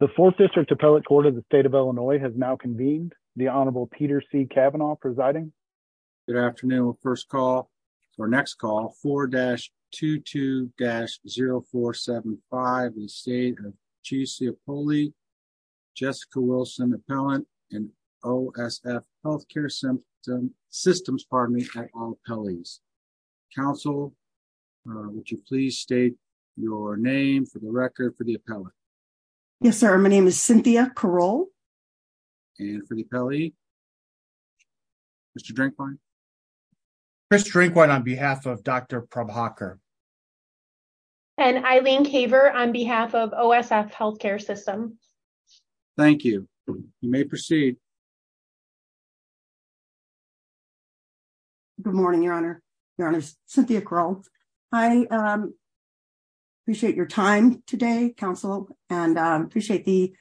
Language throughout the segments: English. The 4th District Appellate Court of the State of Illinois has now convened. The Honorable Peter C. Kavanaugh presiding. Good afternoon. First call, or next call, 4-22-0475 in the State of Cacioppoli, Jessica Wilson, Appellant in OSF Healthcare Systems, pardon me, at all appellees. Counsel, would you please state your name for the record for the appellant? Yes, sir. My name is Cynthia Caroll. And for the appellee, Mr. Drinkwine. Chris Drinkwine on behalf of Dr. Prabhakar. And Eileen Caver on behalf of OSF Healthcare Systems. Thank you. You may proceed. Good morning, Your Honor. Cynthia Caroll. I appreciate your time today, counsel, and appreciate the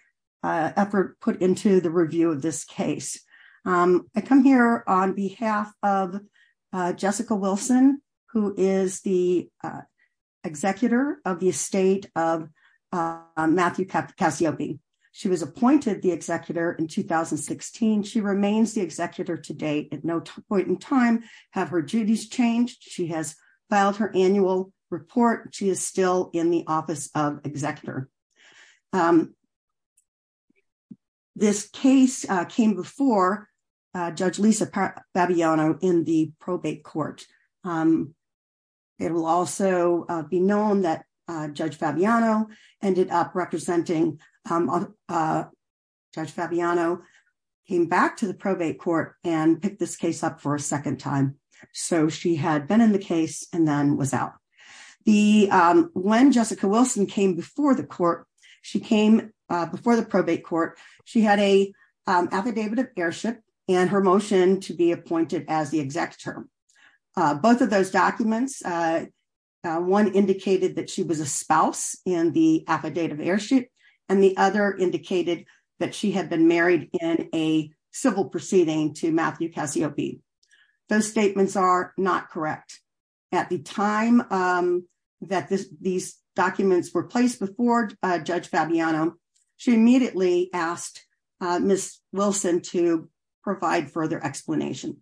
effort put into the review of this case. I come here on behalf of Jessica Wilson, who is the executor of the estate of Matthew Cacioppi. She was appointed the executor in 2016. She remains the executor to date. At no point in time have her duties changed. She has filed her annual report. She is still in the office of executor. This case came before Judge Lisa Fabiano in the probate court. It will also be known that Judge Fabiano ended up representing, Judge Fabiano came back to probate court and picked this case up for a second time. So she had been in the case and then was out. When Jessica Wilson came before the court, she came before the probate court, she had a affidavit of heirship and her motion to be appointed as the executor. Both of those documents, one indicated that she was a spouse in the affidavit of heirship, and the other indicated that she had been married in a civil proceeding to Matthew Cacioppi. Those statements are not correct. At the time that these documents were placed before Judge Fabiano, she immediately asked Miss Wilson to provide further explanation.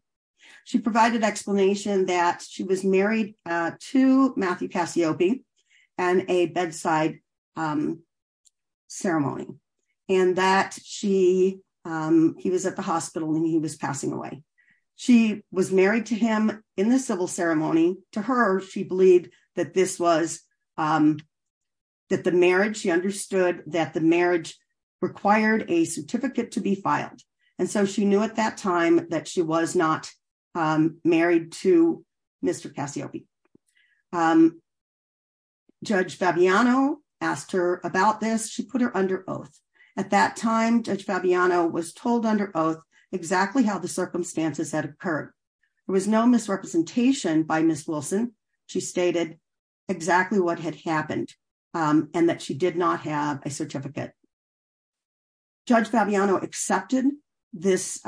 She provided explanation that she was married to Matthew Cacioppi and a bedside ceremony, and that he was at the hospital and he was passing away. She was married to him in the civil ceremony. To her, she believed that this was, that the marriage, she understood that the marriage required a certificate to be filed. And so she knew at that time that she was not married to Mr. Cacioppi. Um, Judge Fabiano asked her about this. She put her under oath. At that time, Judge Fabiano was told under oath exactly how the circumstances had occurred. There was no misrepresentation by Miss Wilson. She stated exactly what had happened and that she did not have a certificate. Judge Fabiano accepted this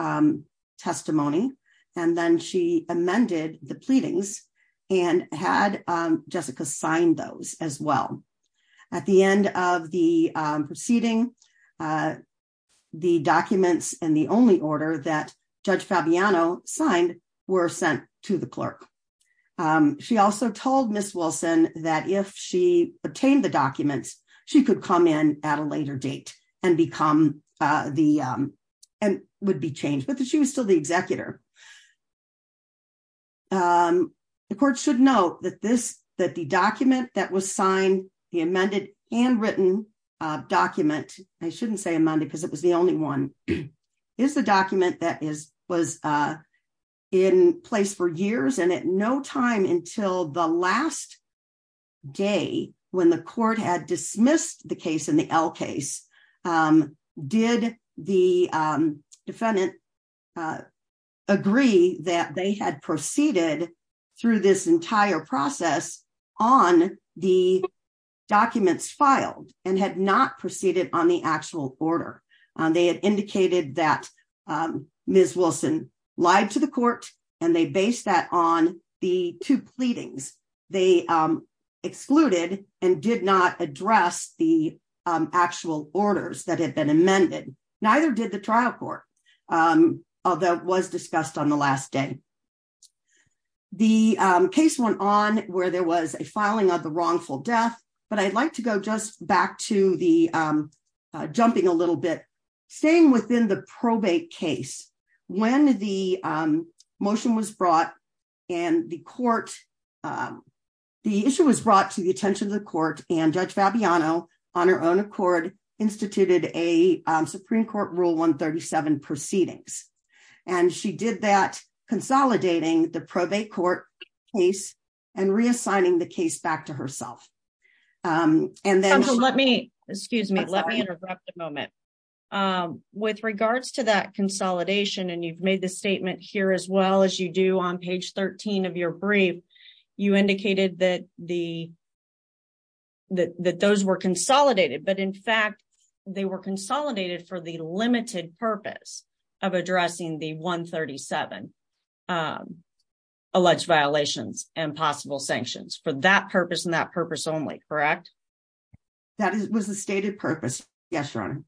testimony, and then she amended the pleadings and had Jessica signed those as well. At the end of the proceeding, the documents and the only order that Judge Fabiano signed were sent to the clerk. She also told Miss Wilson that if she obtained the documents, she could come in at a later date. And become the, and would be changed. But she was still the executor. The court should note that this, that the document that was signed, the amended and written document, I shouldn't say amended because it was the only one, is the document that is, was in place for years and at no time until the last day when the court had heard the case, did the defendant agree that they had proceeded through this entire process on the documents filed and had not proceeded on the actual order. They had indicated that Miss Wilson lied to the court and they based that on the two pleadings. They excluded and did not address the actual orders that had been amended. Neither did the trial court. Although it was discussed on the last day. The case went on where there was a filing of the wrongful death, but I'd like to go just back to the jumping a little bit. Staying within the probate case, when the motion was brought and the court, the issue was brought to the attention of the court and Judge Fabiano on her own accord instituted a Supreme Court rule 137 proceedings. And she did that consolidating the probate court case and reassigning the case back to herself. And then let me, excuse me, let me interrupt a moment. With regards to that consolidation, and you've made the statement here as well as you do on page 13 of your brief, you indicated that those were consolidated, but in fact, they were consolidated for the limited purpose of addressing the 137 alleged violations and possible sanctions. For that purpose and that purpose only, correct? That was the stated purpose. Yes, Your Honor.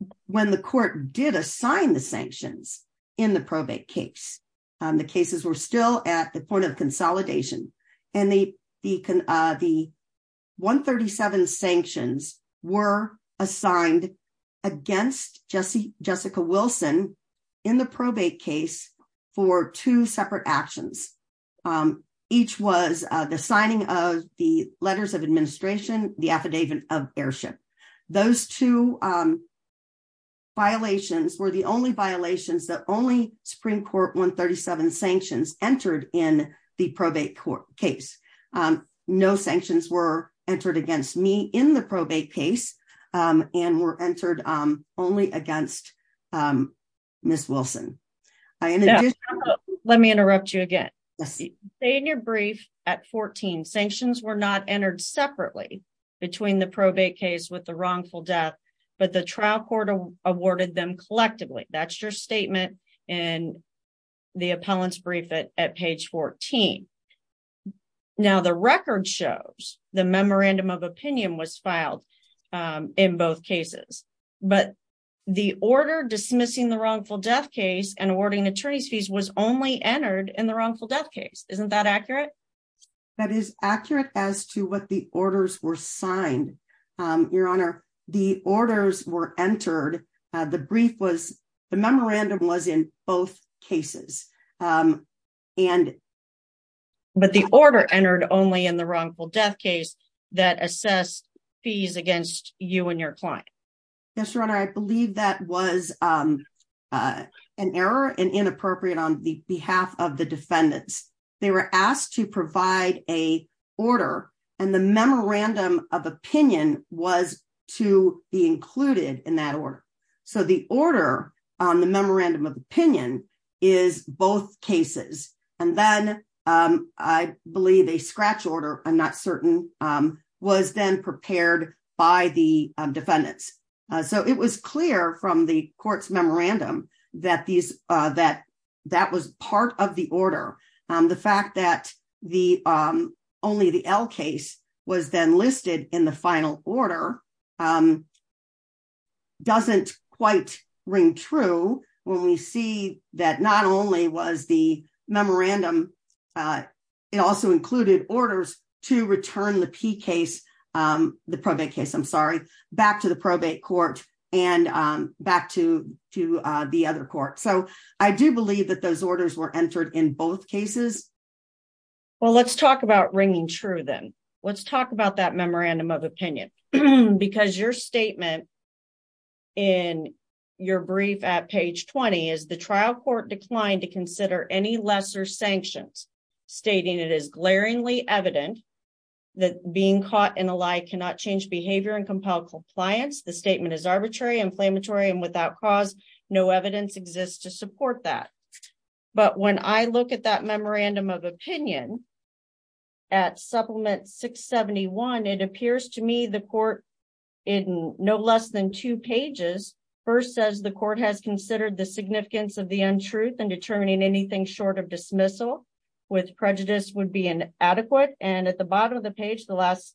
But when the court did assign the sanctions in the probate case, the cases were still at the point of consolidation and the 137 sanctions were assigned against Jessica Wilson in the probate case for two separate actions. Each was the signing of the letters of administration, the affidavit of airship. Those two violations were the only violations that only Supreme Court 137 sanctions entered in the probate court case. No sanctions were entered against me in the probate case and were entered only against Ms. Wilson. Let me interrupt you again. Say in your brief at 14, sanctions were not entered separately between the probate case with the wrongful death, but the trial court awarded them collectively. That's your statement in the appellant's brief at page 14. Now, the record shows the memorandum of opinion was filed in both cases, but the order dismissing the wrongful death case and awarding attorney's fees was only entered in the wrongful death case. Isn't that accurate? That is accurate as to what the orders were signed, Your Honor. The orders were entered. The brief was, the memorandum was in both cases. But the order entered only in the wrongful death case that assessed fees against you and your client. Yes, Your Honor. I believe that was an error and inappropriate on the behalf of the defendants. They were asked to provide a order and the memorandum of opinion was to be included in that order. So the order on the memorandum of opinion is both cases. And then I believe a scratch order, I'm not certain, was then prepared by the defendants. So it was clear from the court's memorandum that that was part of the order. The fact that only the L case was then listed in the final order doesn't quite ring true when we see that not only was the memorandum, it also included orders to return the P case, the probate case, I'm sorry, back to the probate court and back to the other court. So I do believe that those orders were entered in both cases. Well, let's talk about ringing true then. Let's talk about that memorandum of opinion. Because your statement in your brief at page 20 is the trial court declined to consider any lesser sanctions stating it is glaringly evident that being caught in a lie cannot change behavior and compel compliance. The statement is arbitrary, inflammatory, and without cause. No evidence exists to support that. But when I look at that memorandum of opinion at supplement 671, it appears to me the court in no less than two pages first says the court has considered the significance of the untruth and determining anything short of dismissal with prejudice would be inadequate. And at the bottom of the page, the last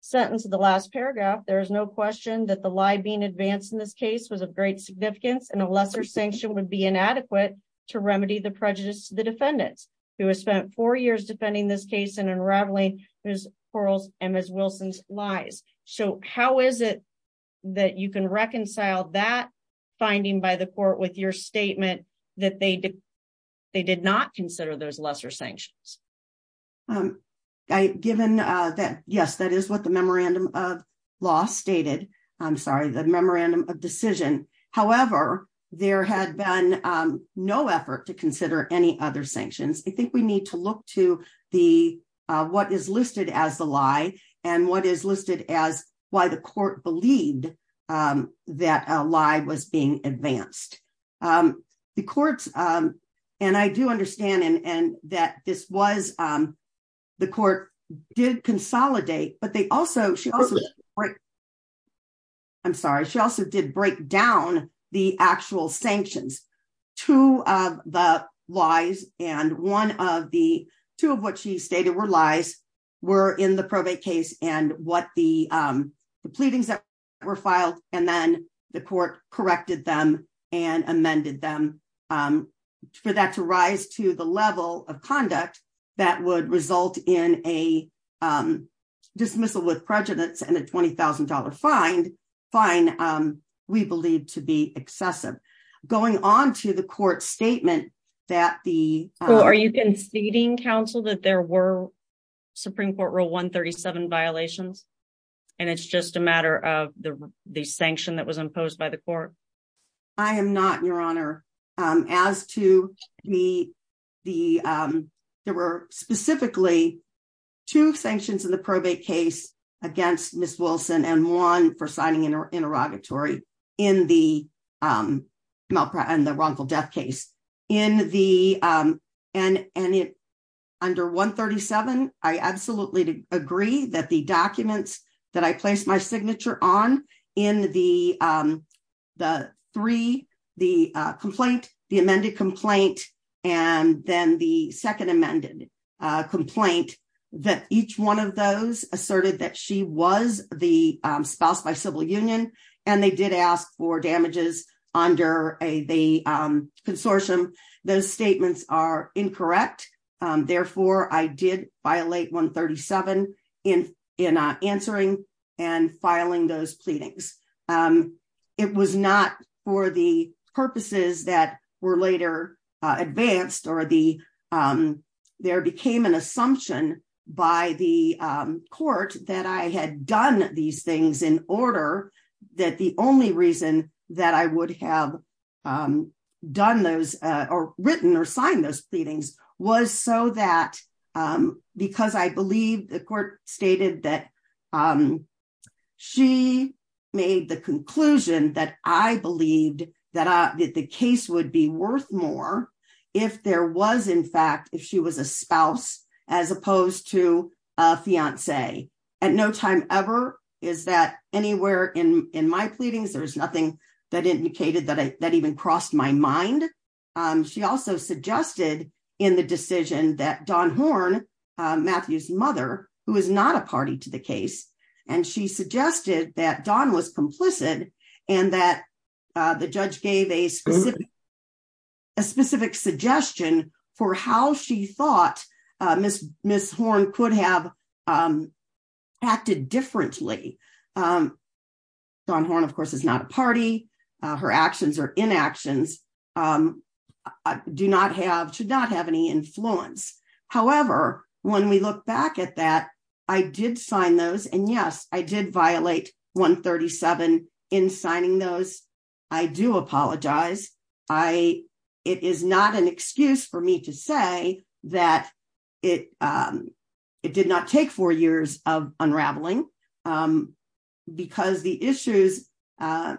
sentence of the last paragraph, there is no question that the lie being advanced in this case was of great significance and a lesser sanction would be inadequate to remedy the prejudice to the defendants who has spent four years defending this case and unraveling Ms. Corl's and Ms. Wilson's lies. So how is it that you can reconcile that finding by the court with your statement that they did not consider those lesser sanctions? Um, given that, yes, that is what the memorandum of law stated. I'm sorry, the memorandum of decision. However, there had been no effort to consider any other sanctions. I think we need to look to the what is listed as the lie and what is listed as why the court believed that a lie was being advanced. Um, the courts, um, and I do understand and that this was, um, the court did consolidate, but they also, she also, I'm sorry, she also did break down the actual sanctions. Two of the lies and one of the two of what she stated were lies were in the probate case and what the, um, the pleadings that were filed and then the court corrected them and amended them, um, for that to rise to the level of conduct that would result in a, um, dismissal with prejudice and a $20,000 fine, um, we believe to be excessive. Going on to the court statement that the, are you conceding counsel that there were Supreme Court rule 137 violations and it's just a matter of the, the sanction that was imposed by the court. I am not, your honor, um, as to me, the, um, there were specifically two sanctions in the probate case against Ms. Wilson and one for signing an interrogatory in the, um, agree that the documents that I placed my signature on in the, um, the three, the, uh, complaint, the amended complaint, and then the second amended, uh, complaint that each one of those asserted that she was the, um, spouse by civil union. And they did ask for damages under a, the, um, consortium. Those statements are incorrect. Therefore, I did violate 137 in, in answering and filing those pleadings. It was not for the purposes that were later advanced or the, um, there became an assumption by the court that I had done these things in order that the only reason that I would have um, done those, uh, or written or signed those pleadings was so that, um, because I believe the court stated that, um, she made the conclusion that I believed that I, that the case would be worth more if there was in fact, if she was a spouse, as opposed to a fiance at no time ever. Is that anywhere in, in my pleadings, there was nothing that indicated that I, that even crossed my mind. Um, she also suggested in the decision that Don Horn, Matthew's mother, who is not a party to the case. And she suggested that Don was complicit and that, uh, the judge gave a specific, a specific suggestion for how she thought, uh, Ms. Horn could have, um, acted differently. Um, Don Horn, of course, is not a party. Her actions or inactions, um, do not have, should not have any influence. However, when we look back at that, I did sign those and yes, I did violate 137 in signing those. I do apologize. I, it is not an excuse for me to say that it, um, it did not take four years of unraveling, um, because the issues, uh,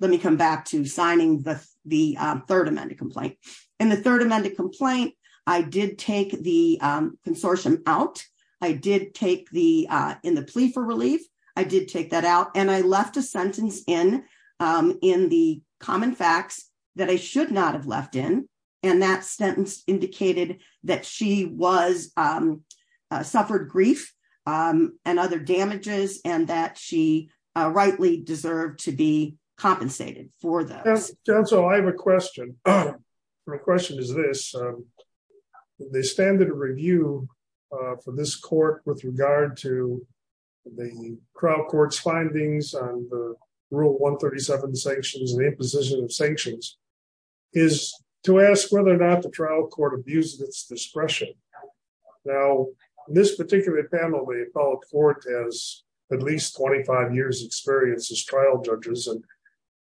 let me come back to signing the, the, um, third amended complaint and the third amended complaint. I did take the, um, consortium out. I did take in the plea for relief. I did take that out and I left a sentence in, um, in the common facts that I should not have left in. And that sentence indicated that she was, um, uh, suffered grief, um, and other damages and that she, uh, rightly deserved to be compensated for those. Councilor, I have a question. My question is this, um, the standard review, uh, for this court with regard to the trial court's findings on the rule 137 sanctions and the imposition of sanctions is to ask whether or not the trial court abuses its discretion. Now, in this particular panel, the appellate court has at least 25 years experience as trial judges. And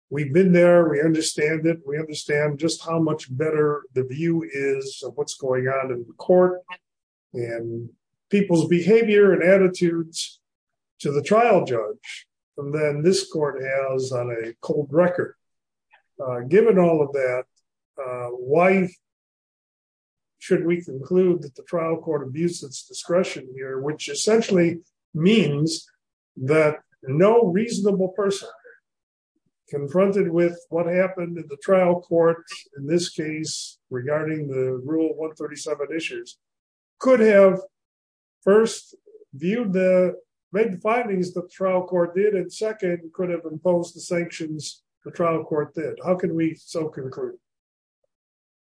we've been there. We understand that we understand just how much better the view is of what's going on in the court and people's behavior and attitudes to the trial judge. And then this court has on a cold record, uh, given all of that, uh, why should we conclude that the trial court abuses discretion here, which essentially means that no reasonable person confronted with what happened in the trial court in this case regarding the rule 137 issues could have first viewed the findings, the trial court did, and second could have imposed the sanctions the trial court did. How can we so conclude?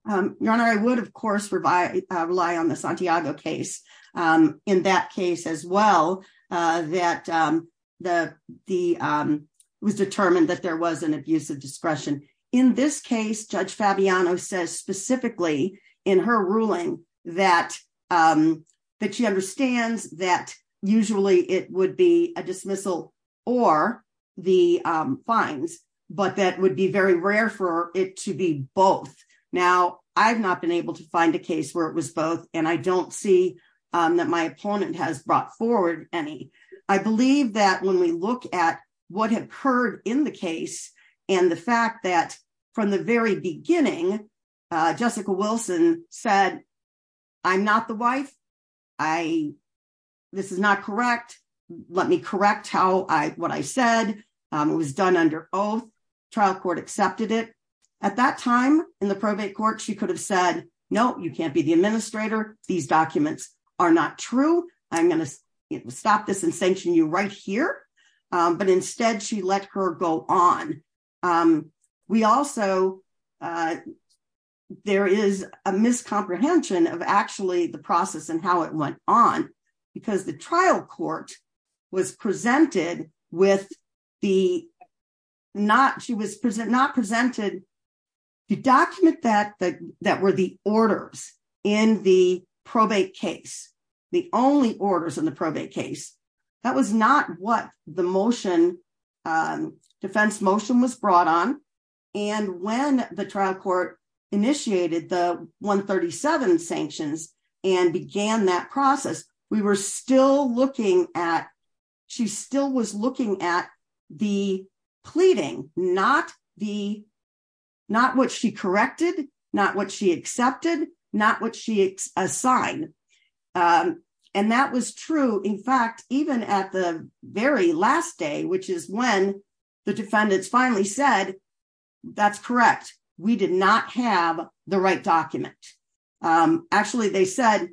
Um, your honor, I would, of course, rely on the in that case as well, uh, that, um, the, the, um, was determined that there was an abuse of discretion in this case. Judge Fabiano says specifically in her ruling that, um, that she understands that usually it would be a dismissal or the, um, fines, but that would be very rare for it to be both. Now I've not been able to find a case where it was both. And I don't see, um, that my opponent has brought forward any, I believe that when we look at what had occurred in the case and the fact that from the very beginning, uh, Jessica Wilson said, I'm not the wife. I, this is not correct. Let me correct how I, what I said, um, it was done under oath trial court accepted it at that time in the probate court. She could have said, no, you can't be the administrator. These documents are not true. I'm going to stop this and sanction you right here. Um, but instead she let her go on. Um, we also, uh, there is a miscomprehension of actually the process and how it went on because the trial court was presented with the not, she was present, not presented the document that the, that were the orders in the probate case, the only orders in the probate case. That was not what the motion, um, defense motion was brought on. And when the trial court initiated the one 37 sanctions and began that process, we were still looking at, she still was looking at the pleading, not the, not what she corrected, not what she accepted, not what she assigned. Um, and that was true. In fact, even at the very last day, which is when the defendants finally said, that's correct. We did not have the right document. Um, actually they said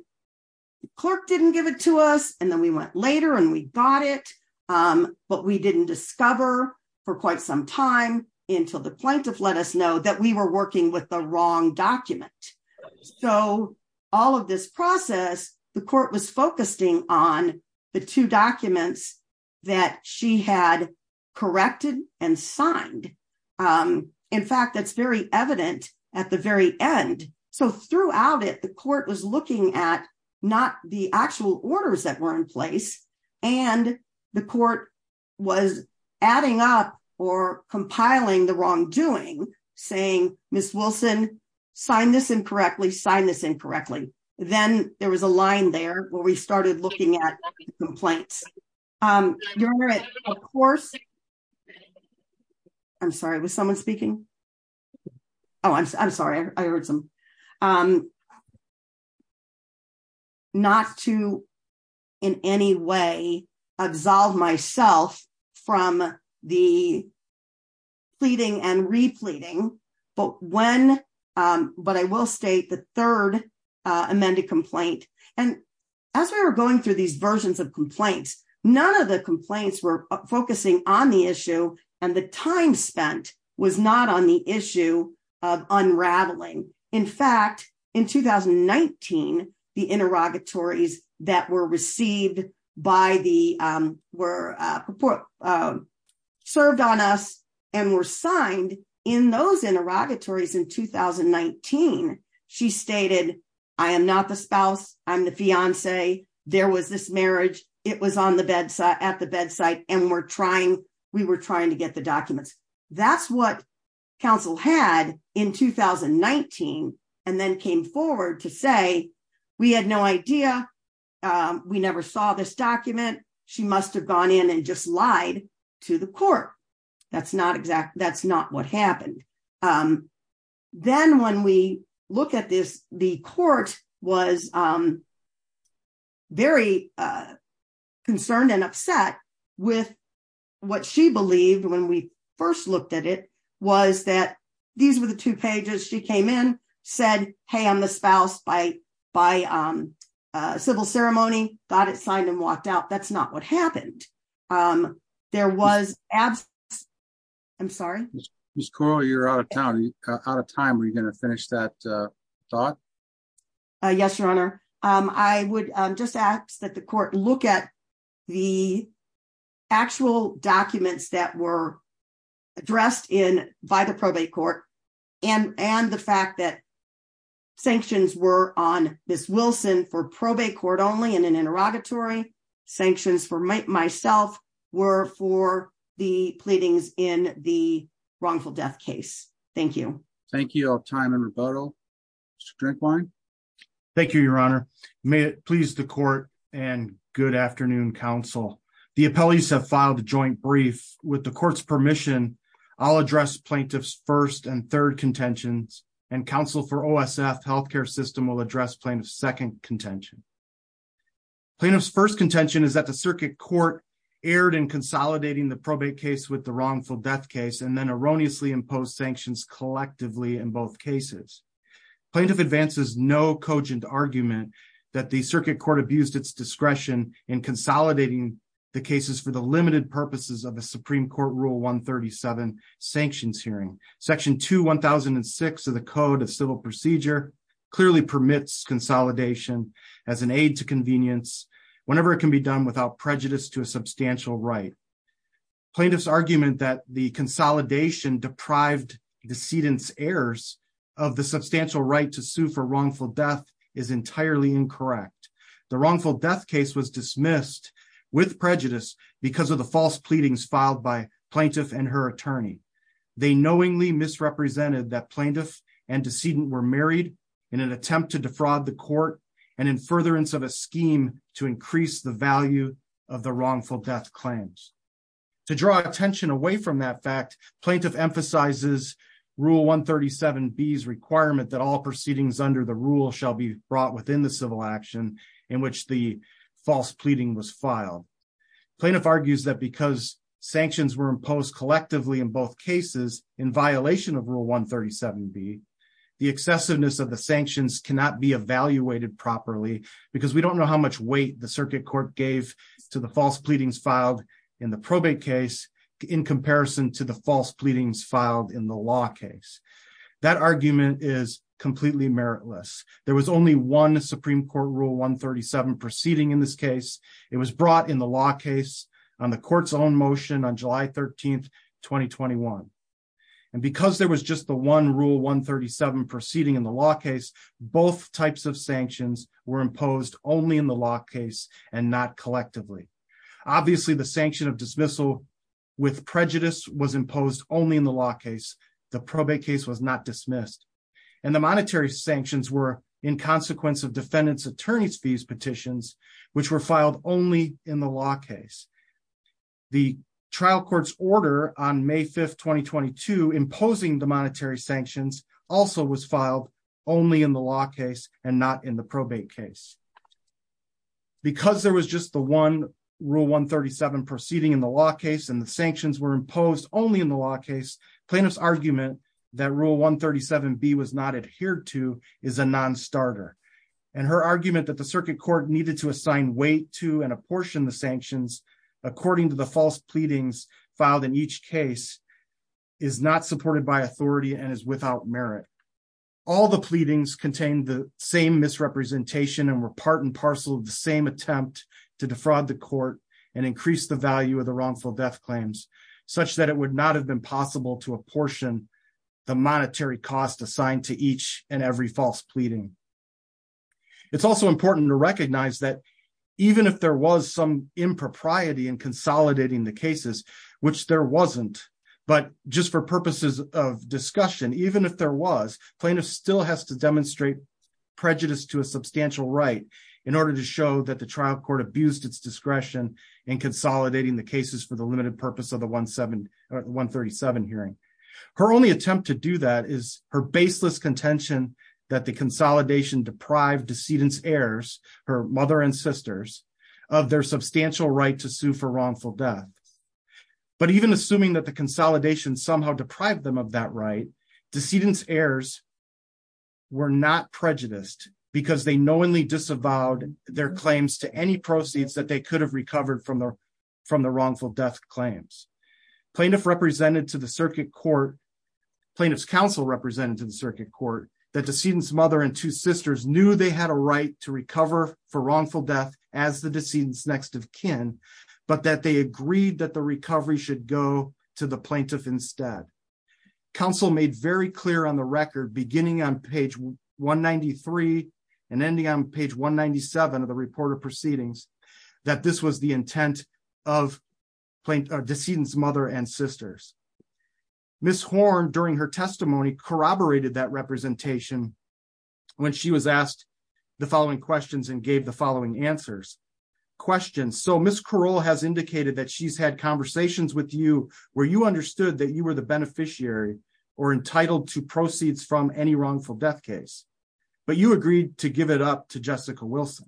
clerk didn't give it to us. And then we went later and we got it. Um, but we didn't discover for quite some time until the plaintiff let us know that we were working with the wrong document. So all of this process, the court was at the very end. So throughout it, the court was looking at not the actual orders that were in place and the court was adding up or compiling the wrongdoing saying, Ms. Wilson signed this incorrectly, sign this incorrectly. Then there was a line there where we started looking at complaints. Um, of course, I'm sorry, was someone speaking? Oh, I'm sorry. I heard some, um, not to in any way absolve myself from the pleading and repleting, but when, um, but I will state the amended complaint. And as we were going through these versions of complaints, none of the complaints were focusing on the issue. And the time spent was not on the issue of unraveling. In fact, in 2019, the interrogatories that were received by the, um, were, um, served on us and were signed in those interrogatories in 2019, she stated, I am not the spouse. I'm the fiance. There was this marriage. It was on the bedside, at the bedside. And we're trying, we were trying to get the documents. That's what counsel had in 2019. And then came forward to say, we had no idea. Um, we never saw this document. She must've gone in and just lied to the court. That's not exactly, that's not what happened. Um, then when we look at this, the court was, um, very, uh, concerned and upset with what she believed when we first looked at it was that these were the two pages she came in, said, Hey, I'm the spouse by, by, um, uh, civil ceremony, got it signed and walked out. That's not what happened. Um, there was abs. I'm sorry. You're out of town, out of time. Are you going to finish that? Uh, thought? Uh, yes, your honor. Um, I would just ask that the court look at the actual documents that were addressed in, by the probate court and, and the fact that sanctions were on this Wilson for probate court only in an interrogatory sanctions for myself were for the pleadings in the wrongful death case. Thank you. Thank you all time and rebuttal drink wine. Thank you, your honor. May it please the court and good afternoon council. The appellees have the joint brief with the court's permission. I'll address plaintiff's first and third contentions and counsel for OSF healthcare system will address plaintiff's second contention. Plaintiff's first contention is that the circuit court erred in consolidating the probate case with the wrongful death case, and then erroneously imposed sanctions collectively in both cases, plaintiff advances, no cogent argument that the circuit court abused its discretion in consolidating the cases for the limited purposes of the Supreme court rule one 37 sanctions hearing section two 1,006 of the code of civil procedure clearly permits consolidation as an aid to convenience whenever it can be done without prejudice to a substantial right. Plaintiff's argument that the consolidation deprived decedent's errors of the substantial right to sue for wrongful death is entirely incorrect. The wrongful death case was dismissed with prejudice because of the false pleadings filed by plaintiff and her attorney. They knowingly misrepresented that plaintiff and decedent were married in an attempt to defraud the court and in furtherance of a scheme to increase the value of the wrongful death claims. To draw attention away from that fact plaintiff emphasizes rule 137 B's requirement that all proceedings under the rule shall be brought within the civil action in which the false pleading was filed. Plaintiff argues that because sanctions were imposed collectively in both cases in violation of rule 137 B the excessiveness of the sanctions cannot be evaluated properly because we don't know how much weight the circuit court gave to the false pleadings filed in the probate case in comparison to the false pleadings filed in the law case. That argument is completely meritless. There was only one supreme court rule 137 proceeding in this case. It was brought in the law case on the court's own motion on July 13, 2021. And because there was just the one rule 137 proceeding in the law case both types of sanctions were imposed only in the law case and not collectively. Obviously the sanction of dismissal with prejudice was imposed only in the law case. The probate case was not dismissed and the monetary sanctions were in consequence of defendant's attorney's fees petitions which were filed only in the law case. The trial court's order on May 5, 2022 imposing the monetary sanctions also was filed only in the law case and not in the probate case. Because there was just the one rule 137 proceeding in the law case and the sanctions were imposed only in the law case plaintiff's argument that rule 137 B was not adhered to is a non-starter. And her argument that the circuit court needed to assign weight to and apportion the sanctions according to the false pleadings filed in each case is not supported by authority and is without merit. All the pleadings contained the same misrepresentation and were part and parcel of the same attempt to defraud the court and increase the value of the wrongful death claims such that it would not have been possible to apportion the monetary cost assigned to each and every false pleading. It's also important to recognize that even if there was impropriety in consolidating the cases which there wasn't but just for purposes of discussion even if there was plaintiff still has to demonstrate prejudice to a substantial right in order to show that the trial court abused its discretion in consolidating the cases for the limited purpose of the 137 hearing. Her only attempt to do that is her baseless contention that the consolidation deprived decedent's heirs her mother and sisters of their substantial right to sue for wrongful death. But even assuming that the consolidation somehow deprived them of that right decedent's heirs were not prejudiced because they knowingly disavowed their claims to any proceeds that they could have recovered from the wrongful death claims. Plaintiff represented to circuit court that decedent's mother and two sisters knew they had a right to recover for wrongful death as the decedent's next of kin but that they agreed that the recovery should go to the plaintiff instead. Counsel made very clear on the record beginning on page 193 and ending on page 197 of the report of proceedings that this was the intent of decedent's mother and sisters. Ms. Horne during her testimony corroborated that representation when she was asked the following questions and gave the following answers. Question so Ms. Caroll has indicated that she's had conversations with you where you understood that you were the beneficiary or entitled to proceeds from any wrongful death case but you agreed to give it up to Jessica Wilson.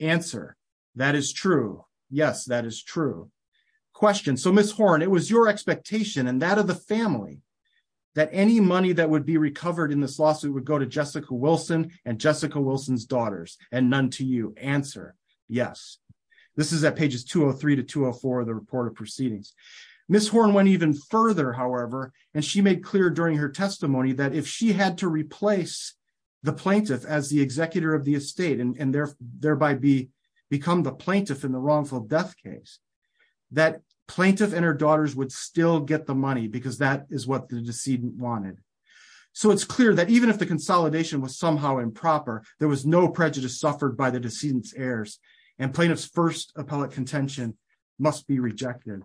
Answer that is true yes that is true. Question so Ms. and that of the family that any money that would be recovered in this lawsuit would go to Jessica Wilson and Jessica Wilson's daughters and none to you. Answer yes. This is at pages 203 to 204 of the report of proceedings. Ms. Horne went even further however and she made clear during her testimony that if she had to replace the plaintiff as the executor of the estate and thereby become the plaintiff in the wrongful death case that plaintiff and her daughters would still get the money because that is what the decedent wanted. So it's clear that even if the consolidation was somehow improper there was no prejudice suffered by the decedent's heirs and plaintiff's first appellate contention must be rejected.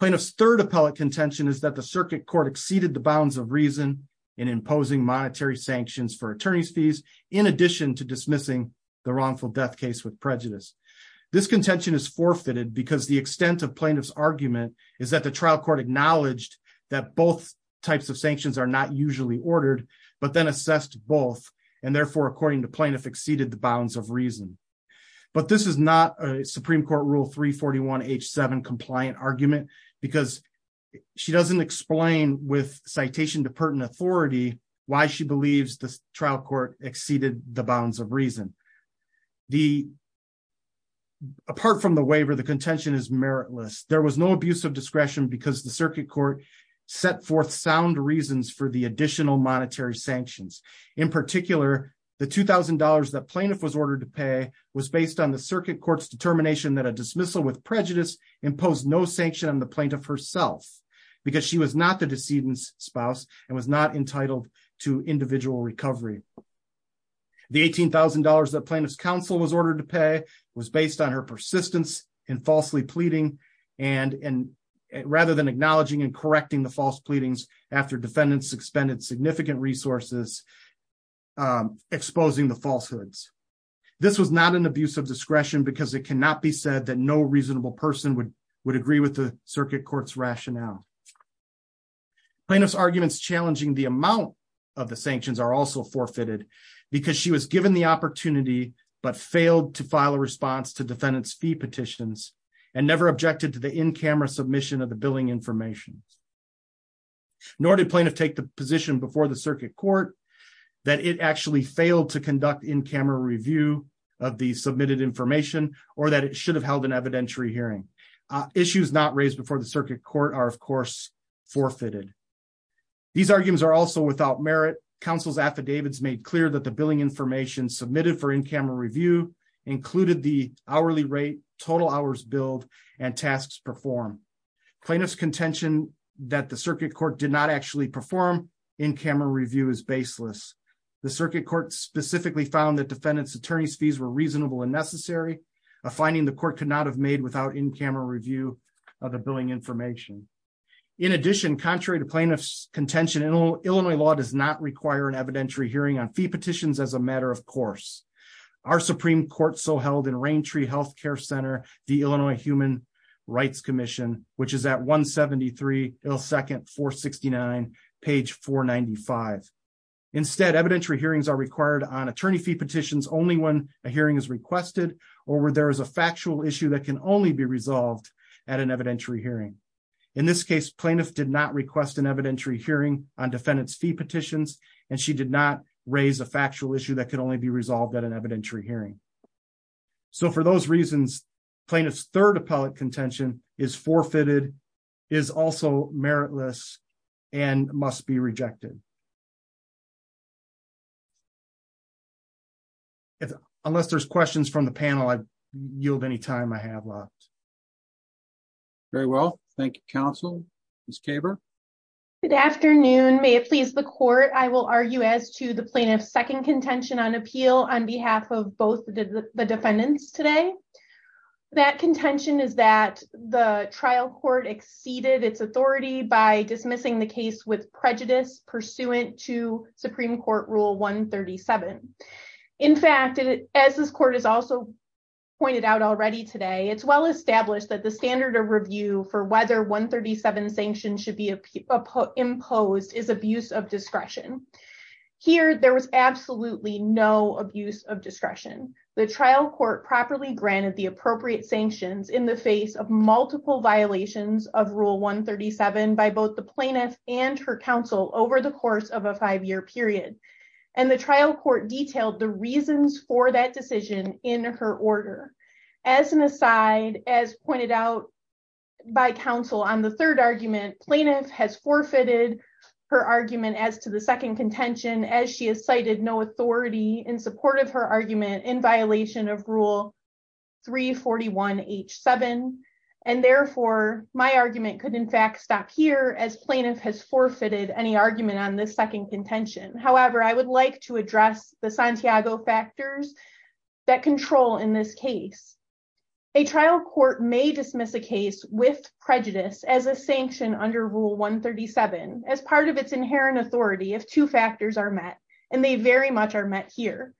Plaintiff's third appellate contention is that the circuit court exceeded the bounds of reason in imposing monetary sanctions for attorney's fees in addition to dismissing the wrongful death case with prejudice. This contention is forfeited because the extent of plaintiff's argument is that the trial court acknowledged that both types of sanctions are not usually ordered but then assessed both and therefore according to plaintiff exceeded the bounds of reason. But this is not a supreme court rule 341 h7 compliant argument because she doesn't explain with citation to pertinent authority why she believes the trial court exceeded the bounds of reason. Apart from the waiver the contention is meritless. There was no abuse of discretion because the circuit court set forth sound reasons for the additional monetary sanctions. In particular the two thousand dollars that plaintiff was ordered to pay was based on the circuit court's determination that a dismissal with prejudice imposed no sanction on the plaintiff herself because she was not the decedent's spouse and was not entitled to the eighteen thousand dollars that plaintiff's counsel was ordered to pay was based on her persistence in falsely pleading and and rather than acknowledging and correcting the false pleadings after defendants expended significant resources exposing the falsehoods. This was not an abuse of discretion because it cannot be said that no reasonable person would would agree with the circuit court's rationale. Plaintiff's arguments challenging the amount of the sanctions are also because she was given the opportunity but failed to file a response to defendant's fee petitions and never objected to the in-camera submission of the billing information. Nor did plaintiff take the position before the circuit court that it actually failed to conduct in-camera review of the submitted information or that it should have held an evidentiary hearing. Issues not raised before the circuit court are of course forfeited. These arguments are also counsel's affidavits made clear that the billing information submitted for in-camera review included the hourly rate, total hours billed, and tasks performed. Plaintiff's contention that the circuit court did not actually perform in-camera review is baseless. The circuit court specifically found that defendant's attorney's fees were reasonable and necessary, a finding the court could not have made without in-camera review of the billing information. In addition, contrary to plaintiff's contention, Illinois law does not require an evidentiary hearing on fee petitions as a matter of course. Our Supreme Court so held in Raintree Health Care Center, the Illinois Human Rights Commission, which is at 173 Hill Second 469 page 495. Instead, evidentiary hearings are required on attorney fee petitions only when a hearing is requested or where there is a factual issue that can only be resolved at an evidentiary hearing. In this case, plaintiff did not request an evidentiary hearing on defendant's fee petitions and she did not raise a factual issue that could only be resolved at an evidentiary hearing. So for those reasons, plaintiff's third appellate contention is forfeited, is also meritless, and must be rejected. Unless there's questions from the panel, I yield any time I have left. Very well, thank you counsel. Ms. Kaber? Good afternoon, may it please the court, I will argue as to the plaintiff's second contention on appeal on behalf of both the defendants today. That contention is that the trial court exceeded its authority by dismissing the case with prejudice, pursuant to Supreme Court Rule 137. In fact, as this court has also pointed out already today, it's well established that the standard of review for whether 137 sanctions should be imposed is abuse of discretion. Here, there was absolutely no abuse of discretion. The trial court properly granted the appropriate sanctions in the face of multiple violations of Rule 137 by both the plaintiff and her counsel over the course of a five-year period. And the trial court detailed the reasons for that decision in her order. As an aside, as pointed out by counsel on the third argument, plaintiff has forfeited her argument as to the second contention as she has cited no authority in support of her argument in violation of Rule 341H7. And therefore, my argument could in fact stop here as plaintiff has forfeited any argument on this second contention. However, I would like to address the Santiago factors that control in this case. A trial court may dismiss a case with prejudice as a sanction under Rule 137 as part of its inherent authority if two factors are met, and they very much are met here.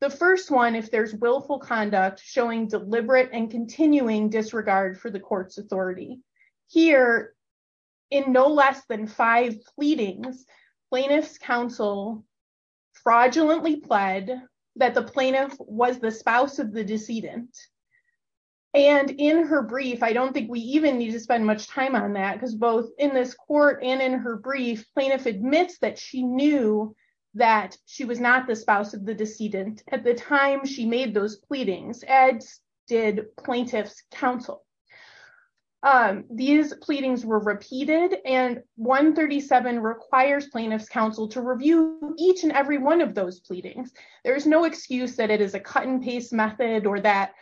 The first one, if there's willful conduct showing deliberate and continuing disregard for the court's authority. Here, in no less than five pleadings, plaintiff's counsel fraudulently pled that the plaintiff was the spouse of the decedent. And in her brief, I don't think we even need to spend much time on that because both in this court and in her brief, plaintiff admits that she knew that she was not the spouse of the decedent at the time she made those pleadings as did plaintiff's counsel. These pleadings were repeated and 137 requires plaintiff's counsel to review each and every one of those pleadings. There's no excuse that it is a cut and paste method or that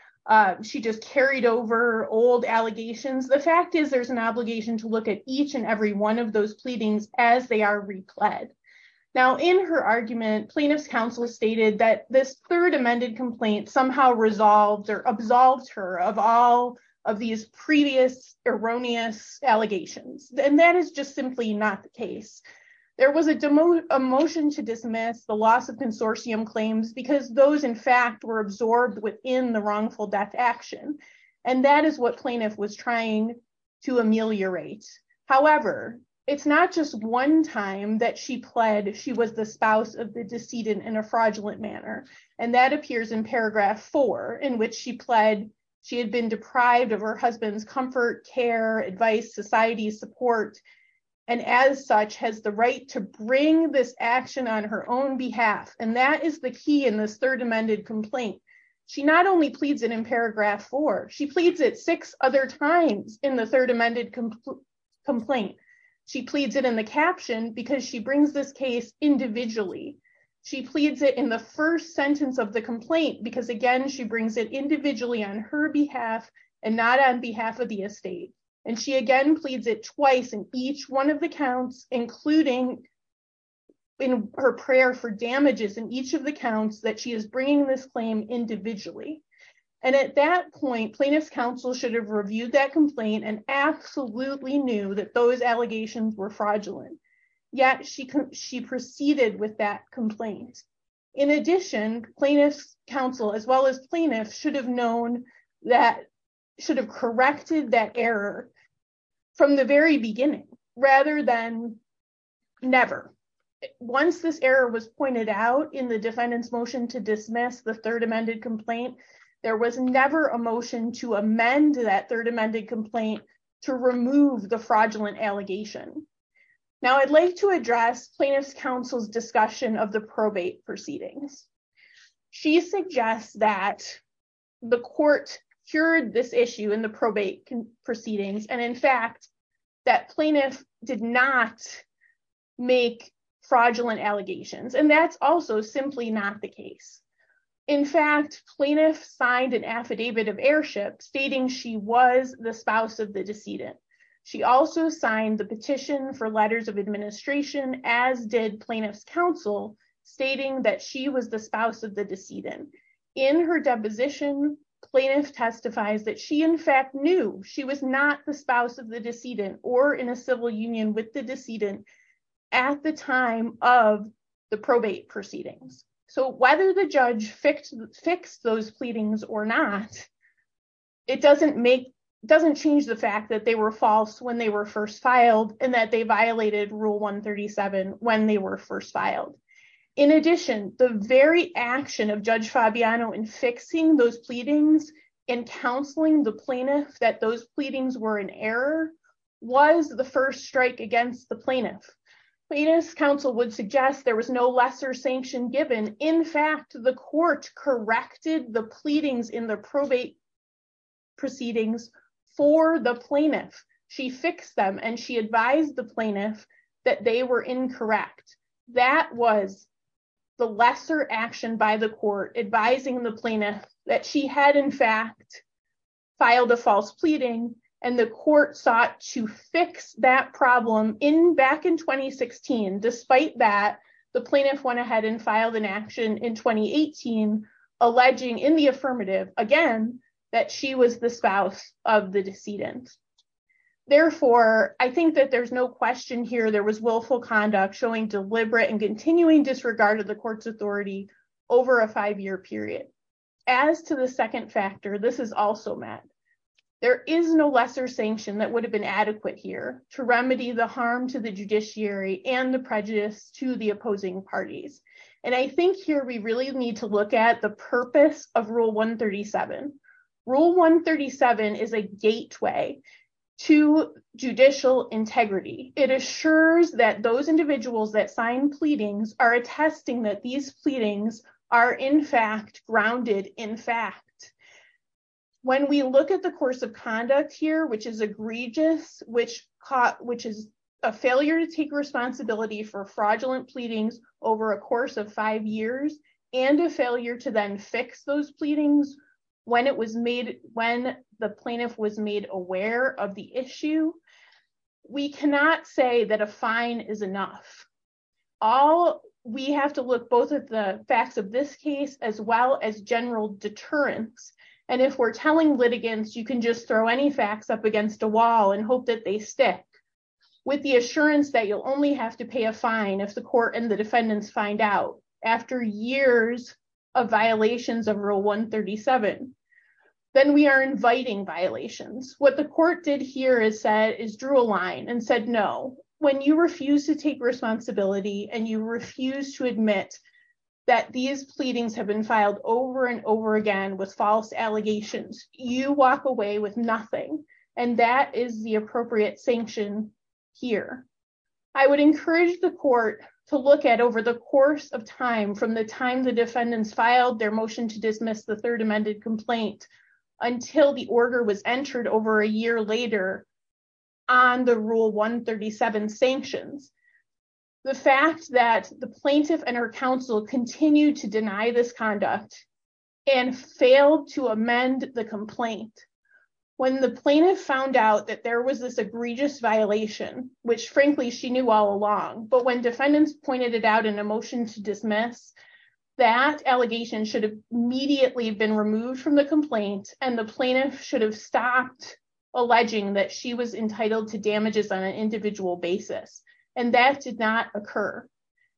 she just carried over old allegations. The fact is there's an obligation to look at each and every one of those pleadings as they are pled. Now in her argument, plaintiff's counsel stated that this third amended complaint somehow resolved or absolved her of all of these previous erroneous allegations. And that is just simply not the case. There was a motion to dismiss the loss of consortium claims because those in fact were absorbed within the wrongful death action. And that is what plaintiff was trying to ameliorate. However, it's not just one time that she pled she was the spouse of the decedent in a fraudulent manner. And that appears in paragraph four in which she pled she had been deprived of her husband's comfort, care, advice, society, support, and as such has the right to bring this action on her own behalf. And that is the key in this third amended complaint. She not only pleads it in complaint, she pleads it in the caption because she brings this case individually. She pleads it in the first sentence of the complaint because again, she brings it individually on her behalf and not on behalf of the estate. And she again, pleads it twice in each one of the counts, including in her prayer for damages in each of the counts that she is bringing this claim individually. And at that point, plaintiff's counsel should have reviewed that complaint and absolutely knew that those allegations were fraudulent. Yet she proceeded with that complaint. In addition, plaintiff's counsel, as well as plaintiff should have known that should have corrected that error from the very beginning rather than never. Once this error was pointed out in the defendant's motion to dismiss the third amended complaint, there was never a motion to remove the fraudulent allegation. Now I'd like to address plaintiff's counsel's discussion of the probate proceedings. She suggests that the court cured this issue in the probate proceedings. And in fact, that plaintiff did not make fraudulent allegations. And that's also simply not the case. In fact, plaintiff signed an affidavit of heirship stating she was the spouse of the decedent. She also signed the petition for letters of administration, as did plaintiff's counsel, stating that she was the spouse of the decedent. In her deposition, plaintiff testifies that she in fact knew she was not the spouse of the decedent or in a civil union with the decedent at the time of the probate proceedings. So whether the judge fixed those pleadings or not, it doesn't change the fact that they were false when they were first filed and that they violated Rule 137 when they were first filed. In addition, the very action of Judge Fabiano in fixing those pleadings and counseling the plaintiff that those pleadings were in error was the first strike against the plaintiff. Plaintiff's counsel would suggest there was no lesser sanction given. In fact, the court corrected the pleadings in the probate proceedings for the plaintiff. She fixed them and she advised the plaintiff that they were incorrect. That was the lesser action by the court advising the plaintiff that she had in fact filed a false pleading and the court sought to fix that problem back in 2016. Despite that, the plaintiff went ahead and filed an action in 2018 alleging in the affirmative again that she was the spouse of the decedent. Therefore, I think that there's no question here there was willful conduct showing deliberate and continuing disregard of the court's authority over a five-year period. As to the second factor, this is also met. There is no lesser sanction that would have been adequate here to remedy the harm to the judiciary and the prejudice to the opposing parties. I think here we really need to look at the purpose of Rule 137. Rule 137 is a gateway to judicial integrity. It assures that those individuals that sign pleadings are attesting that these pleadings are in fact grounded in fact. When we look at the course of conduct here which is egregious, which is a failure to take responsibility for fraudulent pleadings over a course of five years and a failure to then fix those pleadings when the plaintiff was made aware of the issue, we cannot say that a fine is enough. We have to look both at the facts of this case as well as general deterrence. If we're telling litigants you can just throw any facts up against a wall and hope that they stick. With the assurance that you'll only have to pay a fine if the court and the defendants find out after years of violations of Rule 137, then we are inviting violations. What the court did here is drew a line and said no. When you refuse to take responsibility and you refuse to admit that these pleadings have been filed over and over again with false allegations, you walk away with nothing and that is the appropriate sanction here. I would encourage the court to look at over the course of time from the time the defendants filed their motion to dismiss the third amended complaint until the order was entered over a year later on the Rule 137 sanctions. The fact that the plaintiff and her counsel continued to deny this conduct and failed to amend the complaint. When the plaintiff found out that there was this egregious violation, which frankly she knew all along, but when defendants pointed it out in a motion to dismiss, that allegation should have immediately been removed from the complaint and the plaintiff should have stopped alleging that she was entitled to damages on an individual basis and that did not occur.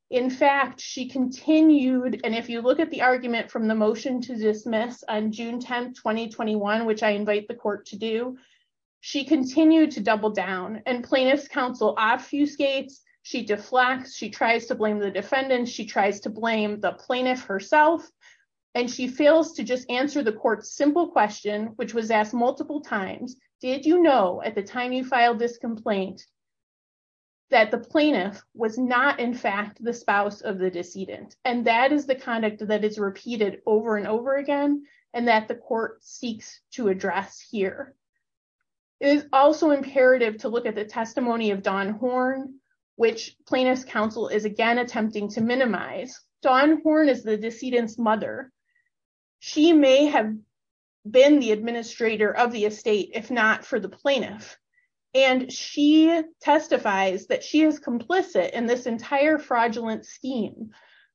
In fact, she continued and if you look at the argument from the motion to dismiss on June 10, 2021, which I invite the court to do, she continued to double down and plaintiff's counsel obfuscates, she deflects, she tries to blame the defendant, she tries to blame the plaintiff herself, and she fails to just answer the court's simple question, which was asked multiple times, did you know at the time you filed this complaint that the plaintiff was not in fact the spouse of the decedent? And that is the conduct that is repeated over and over again and that the court seeks to address here. It is also imperative to look at the testimony of Dawn Horn, which plaintiff's counsel is again attempting to minimize. Dawn Horn is the decedent's mother. She may have been the administrator of the estate if not for the plaintiff and she testifies that she is complicit in this entire fraudulent scheme,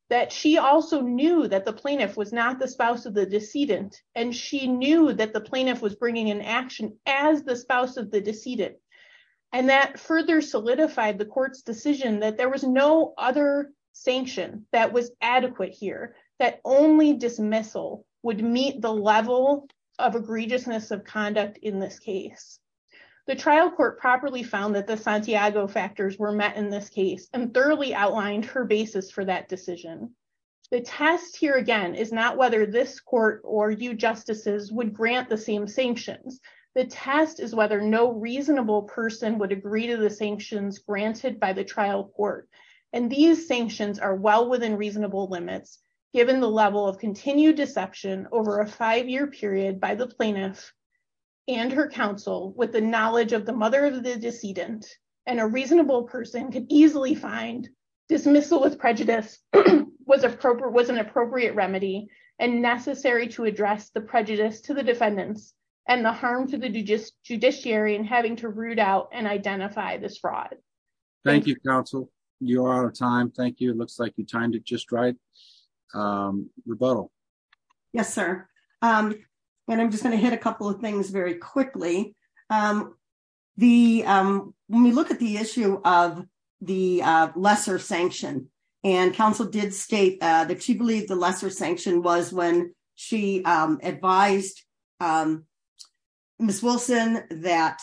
that she also knew that the plaintiff was not the spouse of the decedent and she knew that the plaintiff was bringing an action as the spouse of the decedent and that further solidified the sanction that was adequate here that only dismissal would meet the level of egregiousness of conduct in this case. The trial court properly found that the Santiago factors were met in this case and thoroughly outlined her basis for that decision. The test here again is not whether this court or you justices would grant the same sanctions. The test is whether no reasonable person would agree to the sanctions granted by the trial court and these sanctions are well within reasonable limits given the level of continued deception over a five-year period by the plaintiff and her counsel with the knowledge of the mother of the decedent and a reasonable person could easily find dismissal with prejudice was an appropriate remedy and necessary to address the prejudice to the defendants and the harm to the judiciary and having to root out and identify this fraud. Thank you counsel. You're out of time. Thank you. It looks like you timed it just right. Rebuttal. Yes sir. And I'm just going to hit a couple of things very quickly. When we look at the issue of the lesser sanction and counsel did state that she believed the lesser sanction was when she advised Ms. Wilson that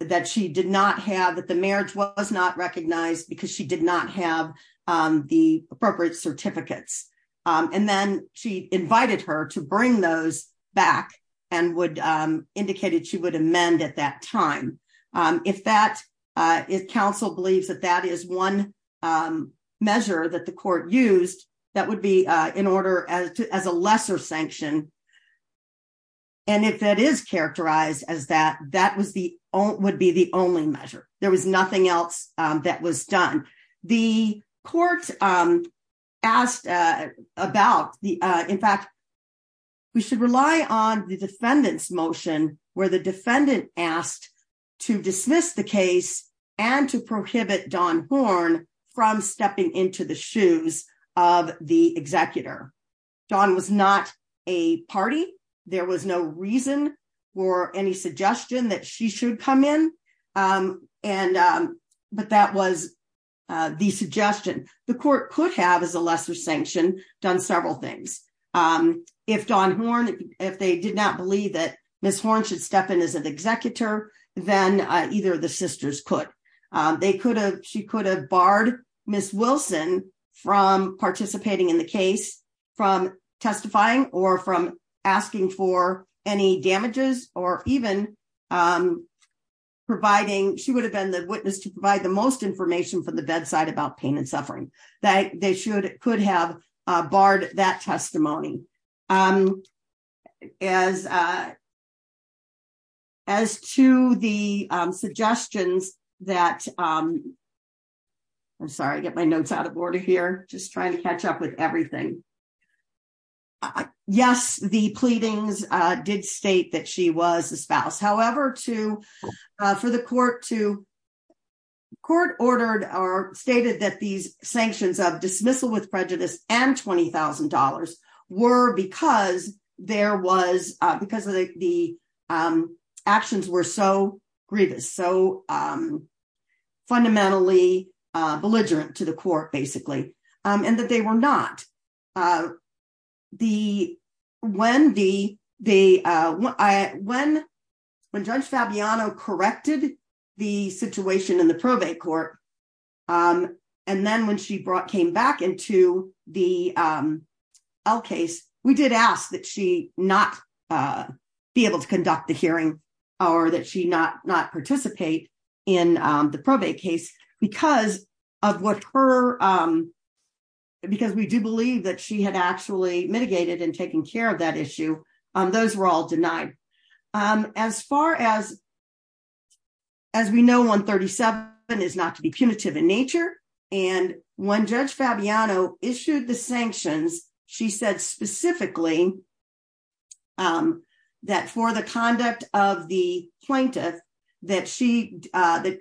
that she did not have that the marriage was not recognized because she did not have the appropriate certificates and then she invited her to bring those back and would indicated she would amend at that time. If that if counsel believes that that is one measure that the court used that would be in order as a lesser sanction and if that is characterized as that that was the only would be the only measure. There was nothing else that was done. The court asked about the in fact we should rely on the defendant's motion where the defendant asked to dismiss the case and to prohibit Dawn Horn from stepping into the shoes of the executor. Dawn was not a party. There was no reason or any suggestion that she should come in and but that was the suggestion the court could have as a lesser sanction done several things. If Dawn Horn if they did not believe that Ms. Horn should step in as an executor then either of the sisters could. They could have she could have barred Ms. Wilson from participating in the case from testifying or from asking for any damages or even providing she would have been the witness to provide the most information from the bedside about pain and suffering. That they should could have barred that testimony. As to the suggestions that I'm sorry I get my notes out of order here just trying to catch up with everything. Yes the pleadings did state that she was a spouse however to for the court to court ordered or stated that these sanctions of dismissal with prejudice and twenty thousand dollars were because there was because of the actions were so grievous so fundamentally belligerent to the court basically and that they were not. The when the the when when Judge Fabiano corrected the situation in the probate court and then when she brought came back into the L case we did ask that she not be able to conduct the hearing or that she not not participate in the probate case because of what her because we believe that she had actually mitigated and taken care of that issue. Those were all denied as far as as we know 137 is not to be punitive in nature and when Judge Fabiano issued the sanctions she said specifically that for the conduct of the plaintiff that she that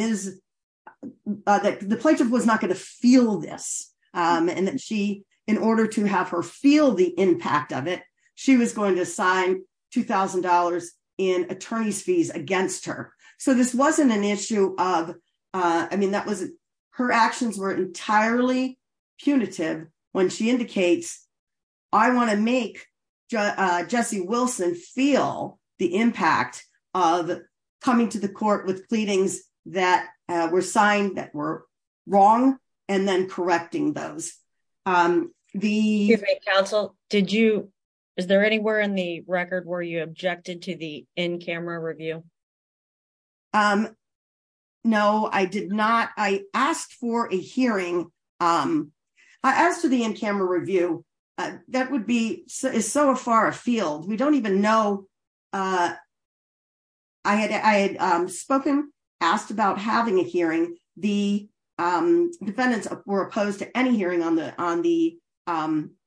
is that the plaintiff was not going to feel this and that she in order to have her feel the impact of it she was going to sign two thousand dollars in attorney's fees against her so this wasn't an issue of I mean that was her actions were entirely punitive when she indicates I want to make Jesse Wilson feel the impact of coming to the court with pleadings that were signed that were wrong and then correcting those. The counsel did you is there anywhere in the record where you objected to the in-camera review? No I did not I asked for a hearing I asked for the in-camera review that would be so is so far afield we don't even know I had I had spoken asked about having a hearing the defendants were opposed to any hearing on the on the on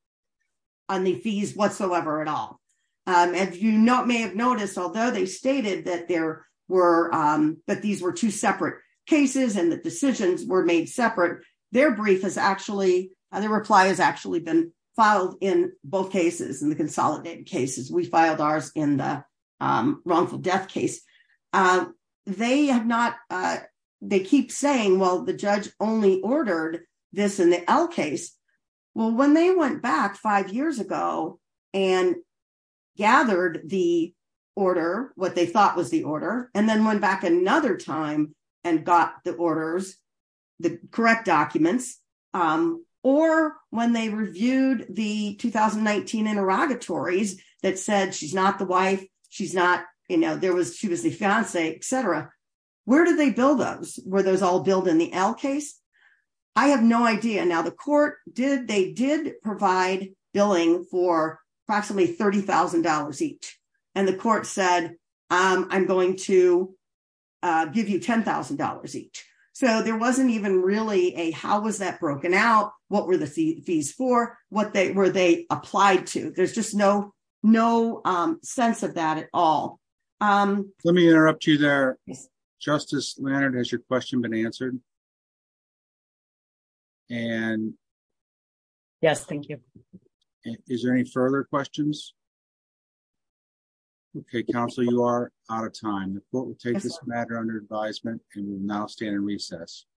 the fees whatsoever at all and you not may have noticed although they stated that there were but these were two separate cases and decisions were made separate their brief is actually the reply has actually been filed in both cases in the consolidated cases we filed ours in the wrongful death case they have not they keep saying well the judge only ordered this in the L case well when they went back five years ago and gathered the order what they thought was the order and then went back another time and got the orders the correct documents or when they reviewed the 2019 interrogatories that said she's not the wife she's not you know there was she was the fiancee etc where did they bill those were those all billed in the L case I have no idea now the court did they did provide billing for approximately $30,000 each and the court said I'm going to give you $10,000 each so there wasn't even really a how was that broken out what were the fees for what they were they applied to there's just no no sense of that at all let me interrupt you there Justice Leonard has your question been answered and yes thank you is there any further questions okay counsel you are out of time the court will take this matter under advisement and we will now stand in recess